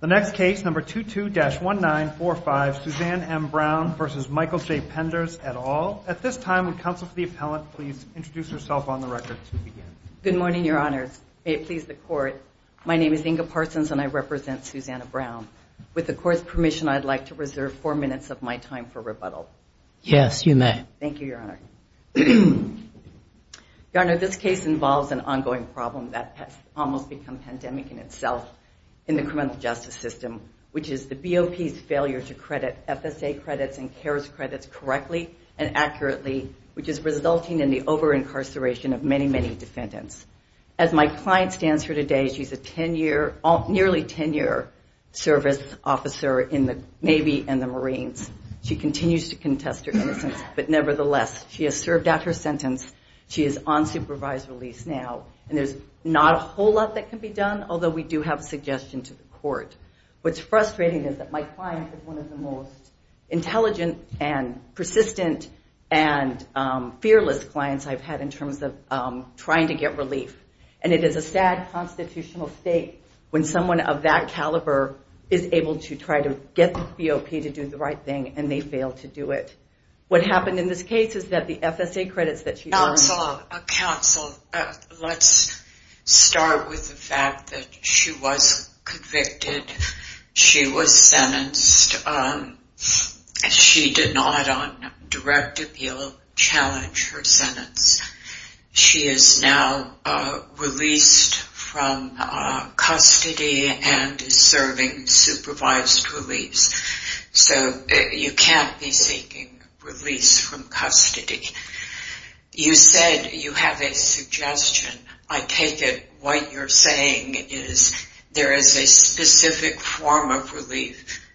The next case, number 22-1945, Suzanne M. Brown v. Michael J. Penders, et al. At this time, would counsel for the appellant please introduce herself on the record to begin? Good morning, your honors. May it please the court, my name is Inga Parsons and I represent Susanna Brown. With the court's permission, I'd like to reserve four minutes of my time for rebuttal. Yes, you may. Thank you, your honor. Your honor, this case involves an ongoing problem that has almost become pandemic in itself in the criminal justice system, which is the BOP's failure to credit FSA credits and CARES credits correctly and accurately, which is resulting in the over-incarceration of many, many defendants. As my client stands here today, she's a nearly 10-year service officer in the Navy and the Marines. She continues to contest her innocence, but nevertheless, she has served out her sentence. She is on supervised release now, and there's not a whole lot that can be done, although we do have a suggestion to the court. What's frustrating is that my client is one of the most intelligent and persistent and fearless clients I've had in terms of trying to get relief, and it is a sad constitutional state when someone of that caliber is able to try to get the BOP to do the right thing, and they fail to do it. What happened in this case is that the FSA credits that she... Counsel, let's start with the fact that she was convicted. She was sentenced. She did not, on direct appeal, challenge her sentence. She is now released from custody and is serving supervised release, so you can't be seeking release from custody. You said you have a suggestion. I take it what you're saying is there is a specific form of relief,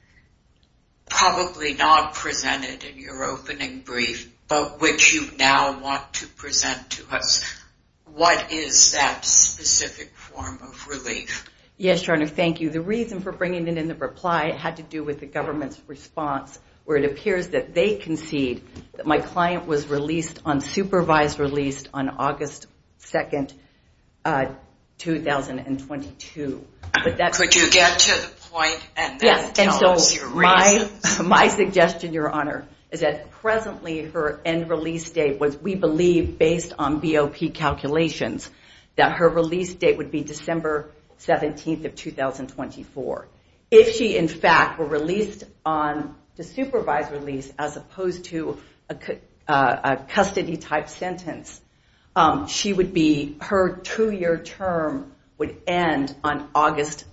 probably not presented in your opening brief, but which you now want to present to us. What is that specific form of relief? Yes, Your Honor, thank you. The reason for bringing it in the reply had to do with the government's response, where it appears that they concede that my client was released on supervised release on August 2, 2022. Could you get to the point and then tell us your reasons? My suggestion, Your Honor, is that presently her end release date was, we believe, based on BOP calculations, that her release date would be December 17, 2024. If she, in fact, were released on the supervised release as opposed to a custody-type sentence, she would be, her two-year term would end on August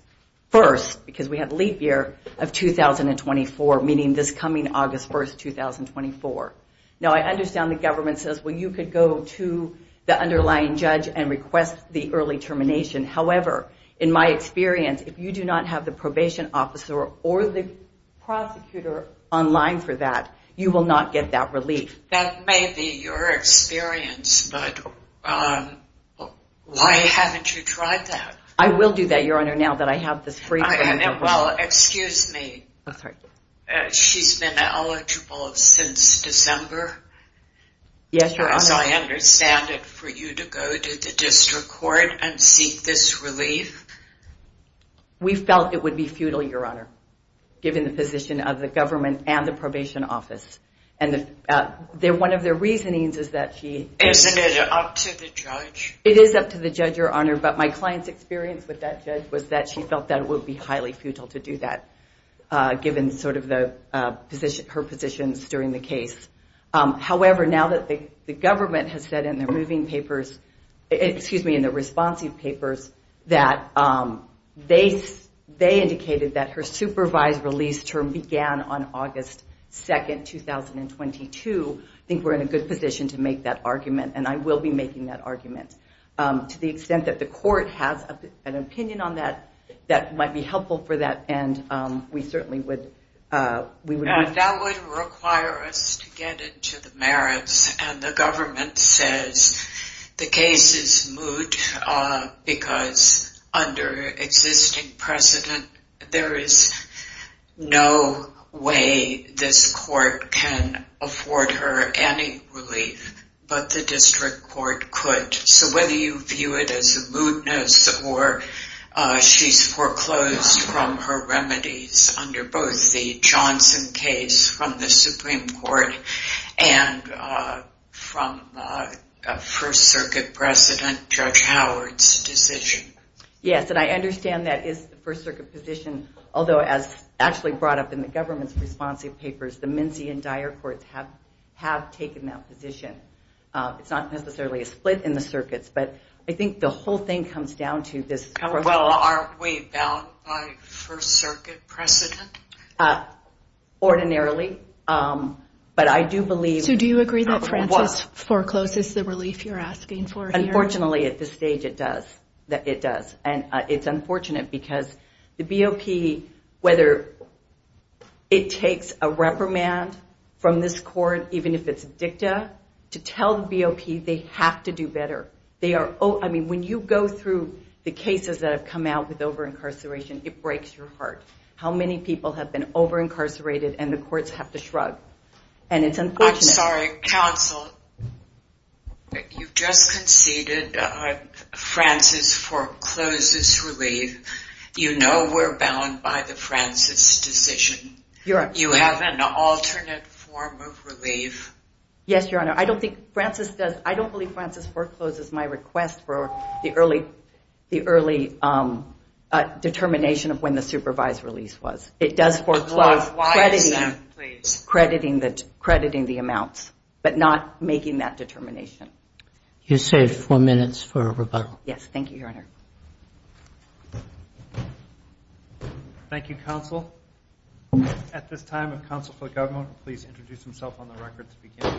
1, because we have leap year of 2024, meaning this coming August 1, 2024. Now, I understand the government says, well, you could go to the underlying judge and request the early termination. However, in my experience, if you do not have the probation officer or the prosecutor on line for that, you will not get that relief. That may be your experience, but why haven't you tried that? I will do that, Your Honor, now that I have this free frame. Well, excuse me. She's been eligible since December? Yes, Your Honor. As I understand it, for you to go to the district court and seek this relief? We felt it would be futile, Your Honor, given the position of the government and the probation office. One of their reasonings is that she... Isn't it up to the judge? It is up to the judge, Your Honor, but my client's experience with that judge was that she felt that it would be highly futile to do that, given her positions during the case. However, now that the government has said in the responsive papers that they indicated that her supervised release term began on August 2nd, 2022, I think we're in a good position to make that argument, and I will be making that argument. To the extent that the court has an opinion on that, that might be helpful for that. That would require us to get into the merits, and the government says the case is moot because under existing precedent, there is no way this court can afford her any relief, but the district court could. So whether you view it as a mootness or she's foreclosed from her remedies under both the Johnson case from the Supreme Court and from First Circuit President Judge Howard's decision. Yes, and I understand that is the First Circuit position, although as actually brought up in the government's responsive papers, the Menzie and Dyer courts have taken that position. It's not necessarily a split in the circuits, but I think the whole thing comes down to this... Well, aren't we bound by First Circuit precedent? Ordinarily, but I do believe... So do you agree that Frances forecloses the relief you're asking for here? Unfortunately, at this stage, it does. It does, and it's unfortunate because the BOP, whether it takes a reprimand from this court, even if it's a dicta, to tell the BOP they have to do better. I mean, when you go through the cases that have come out with over-incarceration, it breaks your heart how many people have been over-incarcerated and the courts have to shrug, and it's unfortunate. I'm sorry, counsel. You've just conceded Frances forecloses relief. You know we're bound by the Frances decision. You have an alternate form of relief. Yes, Frances forecloses my request for the early determination of when the supervised release was. It does foreclose, crediting the amounts, but not making that determination. You saved four minutes for rebuttal. Yes, thank you, Your Honor. Thank you, counsel. At this time, if counsel for the government would please introduce himself on the record to begin.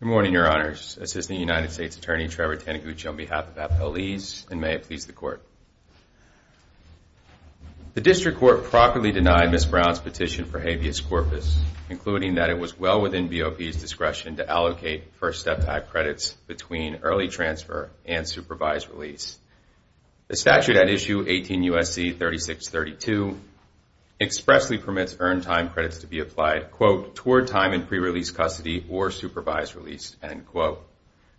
Good morning, Your Honors. This is the United States Attorney Trevor Taniguchi on behalf of Appellees, and may it please the court. The district court properly denied Ms. Brown's petition for habeas corpus, including that it was well within BOP's discretion to allocate First Step Act credits between early transfer and supervised release. The statute at issue 18 USC 3632 expressly permits earned time credits to be applied, quote, toward time in pre-release custody or supervised release, end quote.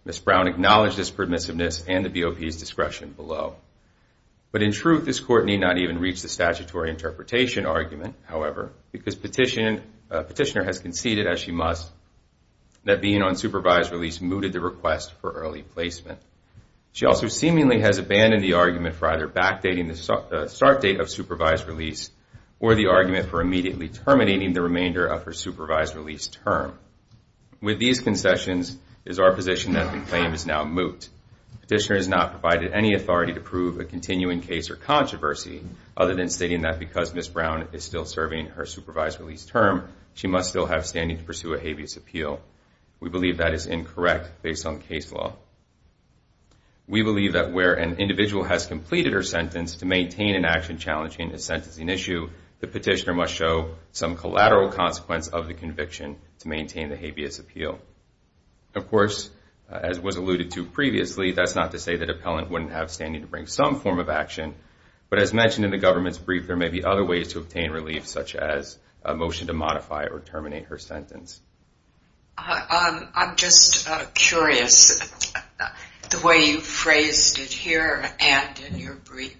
Ms. Brown acknowledged this permissiveness and the BOP's discretion below. But in truth, this court need not even reach the statutory interpretation argument, however, because petitioner has conceded, as she must, that being on supervised release mooted the request for early placement. She also seemingly has abandoned the argument for either start date of supervised release or the argument for immediately terminating the remainder of her supervised release term. With these concessions is our position that the claim is now moot. Petitioner has not provided any authority to prove a continuing case or controversy other than stating that because Ms. Brown is still serving her supervised release term, she must still have standing to pursue a habeas appeal. We believe that is incorrect based on an action challenging the sentencing issue. The petitioner must show some collateral consequence of the conviction to maintain the habeas appeal. Of course, as was alluded to previously, that's not to say that appellant wouldn't have standing to bring some form of action. But as mentioned in the government's brief, there may be other ways to obtain relief, such as a motion to modify or terminate her sentence. I'm just curious, the way you phrased it here and in your brief,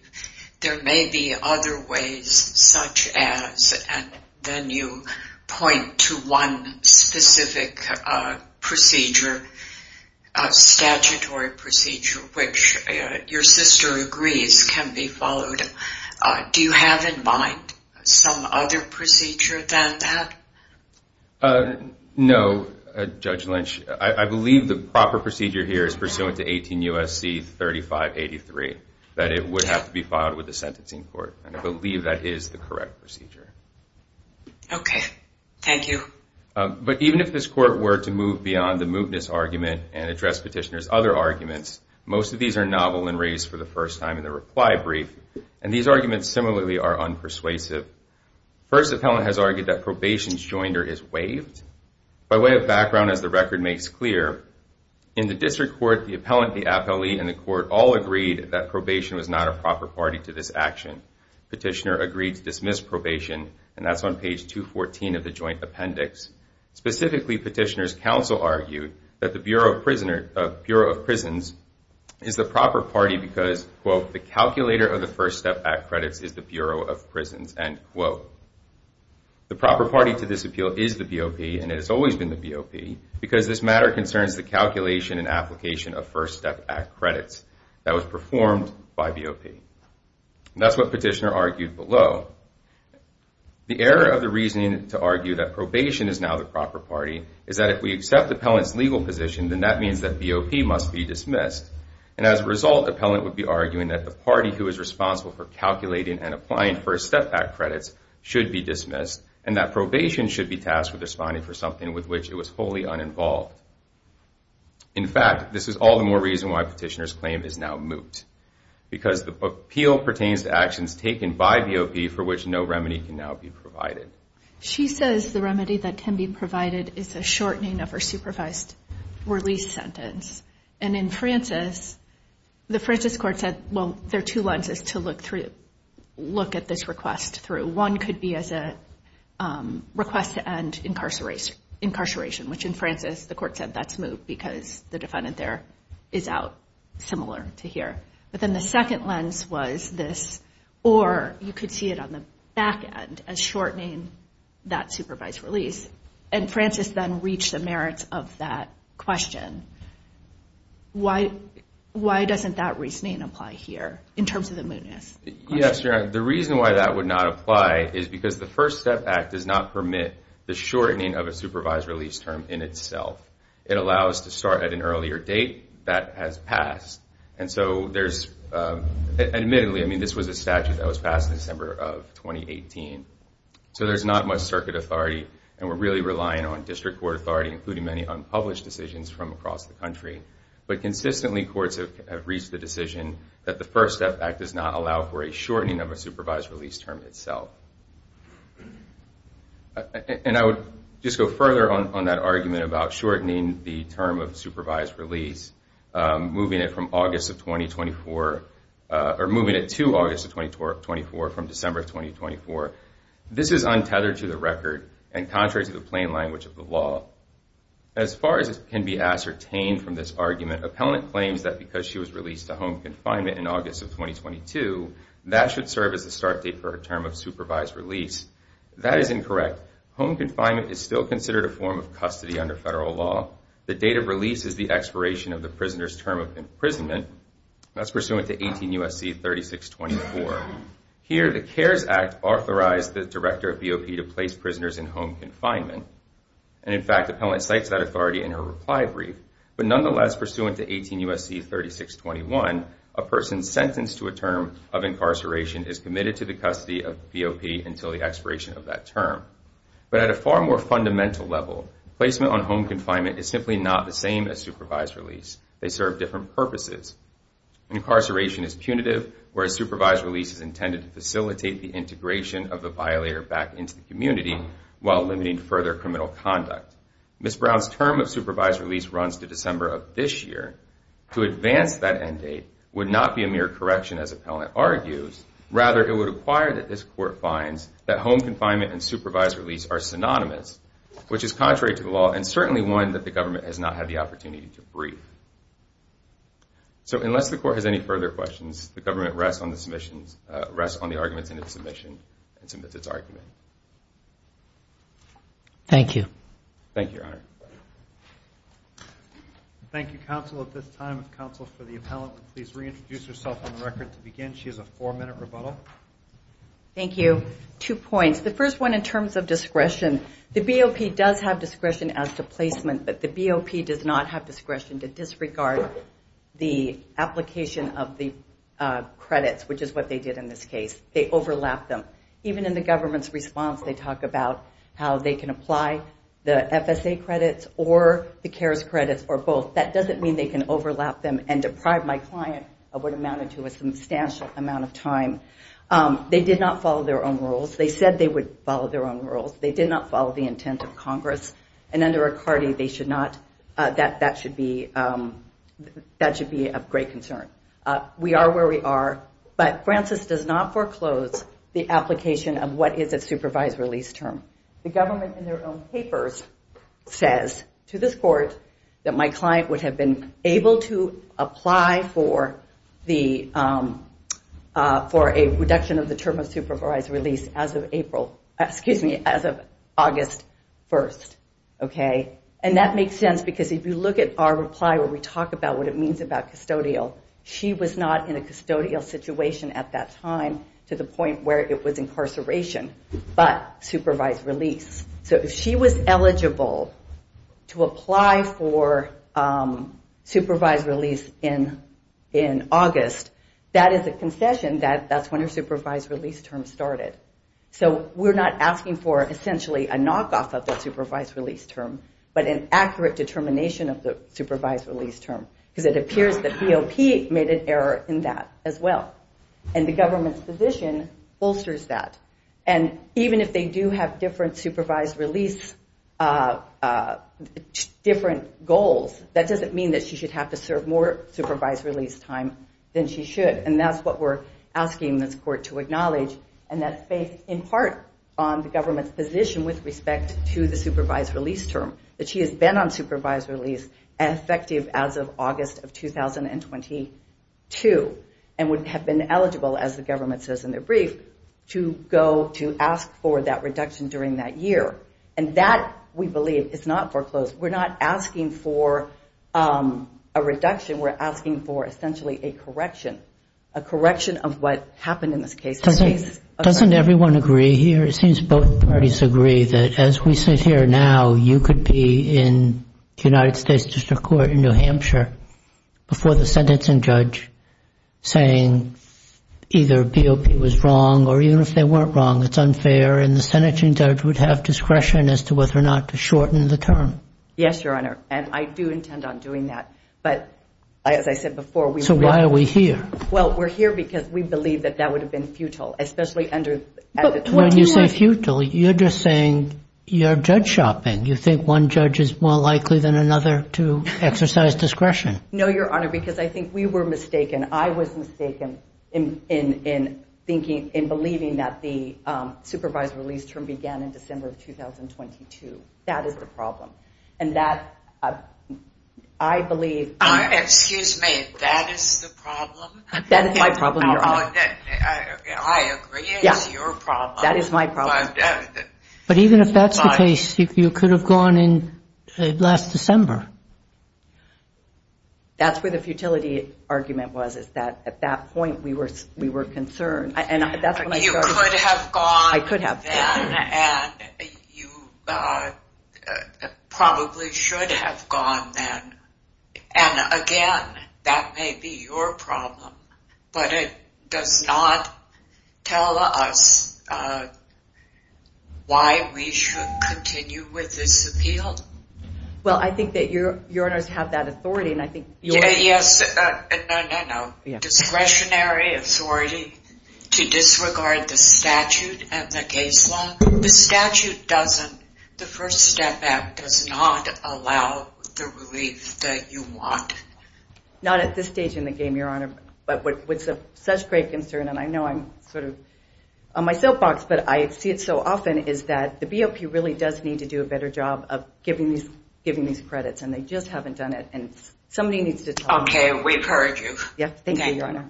there may be other ways such as, and then you point to one specific procedure, a statutory procedure, which your sister agrees can be followed. Do you have in mind some other procedure than that? No, Judge Lynch. I believe the proper procedure is to move beyond the mootness argument and address petitioner's other arguments. Most of these are novel and raised for the first time in the reply brief, and these arguments similarly are unpersuasive. First, the appellant has argued that probation's joinder is waived. By way of background, as the record makes clear, in the district court, the appellant, the appellee, and the court all agreed that probation was not a proper party to this action. Petitioner agreed to dismiss probation, and that's on page 214 of the joint appendix. Specifically, petitioner's counsel argued that the Bureau of Prisons is the proper party because, quote, the calculator of the First Step Act credits is the Bureau of Prisons, end quote. The proper party to this appeal is the BOP, and it has always been the BOP, because this matter concerns the calculation and application of First Step Act credits that was performed by BOP. That's what petitioner argued below. The error of the reasoning to argue that probation is now the proper party is that if we accept the appellant's legal position, then that means that BOP must be dismissed, and as a result, appellant would be arguing that the party who is responsible for calculating and applying First Step Act credits should be dismissed, and that probation should be tasked with responding for something with which it was wholly uninvolved. In fact, this is all the more reason why petitioner's claim is now moot, because the appeal pertains to actions taken by BOP for which no remedy can now be provided. She says the remedy that can be provided is a shortening of her supervised release sentence, and in Francis, the Francis court said, well, there are two lenses to look through, look at this request through. One could be as a request to end incarceration, which in Francis, the court said that's moot because the defendant there is out similar to here, but then the second lens was this, or you could see it on the back end as shortening that supervised release, and Francis then reached the merits of that question. Why doesn't that reasoning apply here in terms of the mootness? Yes, you're right. The reason why that would not apply is because the First Step Act does permit the shortening of a supervised release term in itself. It allows to start at an earlier date that has passed, and so there's, admittedly, I mean, this was a statute that was passed in December of 2018, so there's not much circuit authority, and we're really relying on district court authority, including many unpublished decisions from across the country, but consistently, courts have reached the decision that the First Step Act does not allow for a shortening of a and I would just go further on that argument about shortening the term of supervised release, moving it from August of 2024, or moving it to August of 2024 from December of 2024. This is untethered to the record and contrary to the plain language of the law. As far as can be ascertained from this argument, appellant claims that because she was released to home confinement in August of 2022, that should serve as a start date for a term of Home confinement is still considered a form of custody under federal law. The date of release is the expiration of the prisoner's term of imprisonment. That's pursuant to 18 U.S.C. 3624. Here, the CARES Act authorized the director of BOP to place prisoners in home confinement, and in fact, appellant cites that authority in her reply brief, but nonetheless, pursuant to 18 U.S.C. 3621, a person sentenced to a term of incarceration is committed to the custody of BOP until the But at a far more fundamental level, placement on home confinement is simply not the same as supervised release. They serve different purposes. Incarceration is punitive, whereas supervised release is intended to facilitate the integration of the violator back into the community while limiting further criminal conduct. Ms. Brown's term of supervised release runs to December of this year. To advance that end date would not be a mere correction, as appellant argues. Rather, it would require that this court finds that home confinement and supervised release are synonymous, which is contrary to the law and certainly one that the government has not had the opportunity to brief. So unless the court has any further questions, the government rests on the submissions, rests on the arguments in its submission and submits its argument. Thank you. Thank you, Your Honor. Thank you, counsel. At this time, if counsel for the appellant would please reintroduce herself on the record to begin. She has a four-minute rebuttal. Thank you. Two points. The first one in terms of discretion. The BOP does have discretion as to placement, but the BOP does not have discretion to disregard the application of the credits, which is what they did in this case. They overlapped them. Even in the government's response, they talk about how they can apply the FSA credits or the CARES credits or both. That doesn't mean they can overlap them and deprive my client of what amounted to a substantial amount of time. They did not follow their own rules. They said they would follow their own rules. They did not follow the intent of Congress. And under a CARTI, that should be of great concern. We are where we are, but Francis does not foreclose the application of what is a supervised release term. The government in their own papers says to this court that my client would have been able to apply for a reduction of the term of supervised release as of August 1st. And that makes sense because if you look at our reply where we talk about what it means about custodial, she was not in a custodial situation at that time to the point where it was incarceration. But supervised release. So if she was eligible to apply for supervised release in August, that is a concession that that's when her supervised release term started. So we're not asking for essentially a knockoff of that supervised release term, but an accurate determination of the supervised release term. Because it appears that BOP made an error in that as well. And the even if they do have different supervised release different goals, that doesn't mean that she should have to serve more supervised release time than she should. And that's what we're asking this court to acknowledge. And that's based in part on the government's position with respect to the supervised release term. That she has been on supervised release and effective as of August of 2022 and would have been eligible as the government says in their brief to go to ask for that reduction during that year. And that we believe is not foreclosed. We're not asking for a reduction. We're asking for essentially a correction. A correction of what happened in this case. Doesn't everyone agree here? It seems both parties agree that as we sit here now, you could be in the United States District Court in New Hampshire before the sentencing judge saying either BOP was wrong or even if they weren't wrong, it's unfair. And the sentencing judge would have discretion as to whether or not to shorten the term. Yes, Your Honor. And I do intend on doing that. But as I said before, we So why are we here? Well, we're here because we believe that that would have been futile, especially under When you say futile, you're just saying you're judge shopping. You think one judge is more likely than another to exercise discretion? No, Your Honor, because I think we were mistaken. I was mistaken in thinking, in believing that the supervised release term began in December of 2022. That is the problem. And that I believe Excuse me. That is the problem? That is my problem. I agree it's your problem. That is my problem. But even if that's the case, you could have gone in last December. That's where the futility argument was, is that at that point we were concerned. You could have gone then and you probably should have gone then. And again, that may be your problem, but it does not tell us why we should continue with this appeal. Well, I think that Your Honors have that authority and I think Yes, no, no, no. Discretionary authority to disregard the statute and the case law. The statute doesn't. The First Step Act does not allow the relief that you want. Not at this stage in the game, Your Honor, but with such great concern. And I know I'm sort of on my soapbox, but I see it so often is that the BOP really does need to do a better job of giving these credits and they just haven't done it. And somebody needs to tell me. OK, we encourage you. Yes, thank you, Your Honor.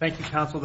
Thank you, counsel.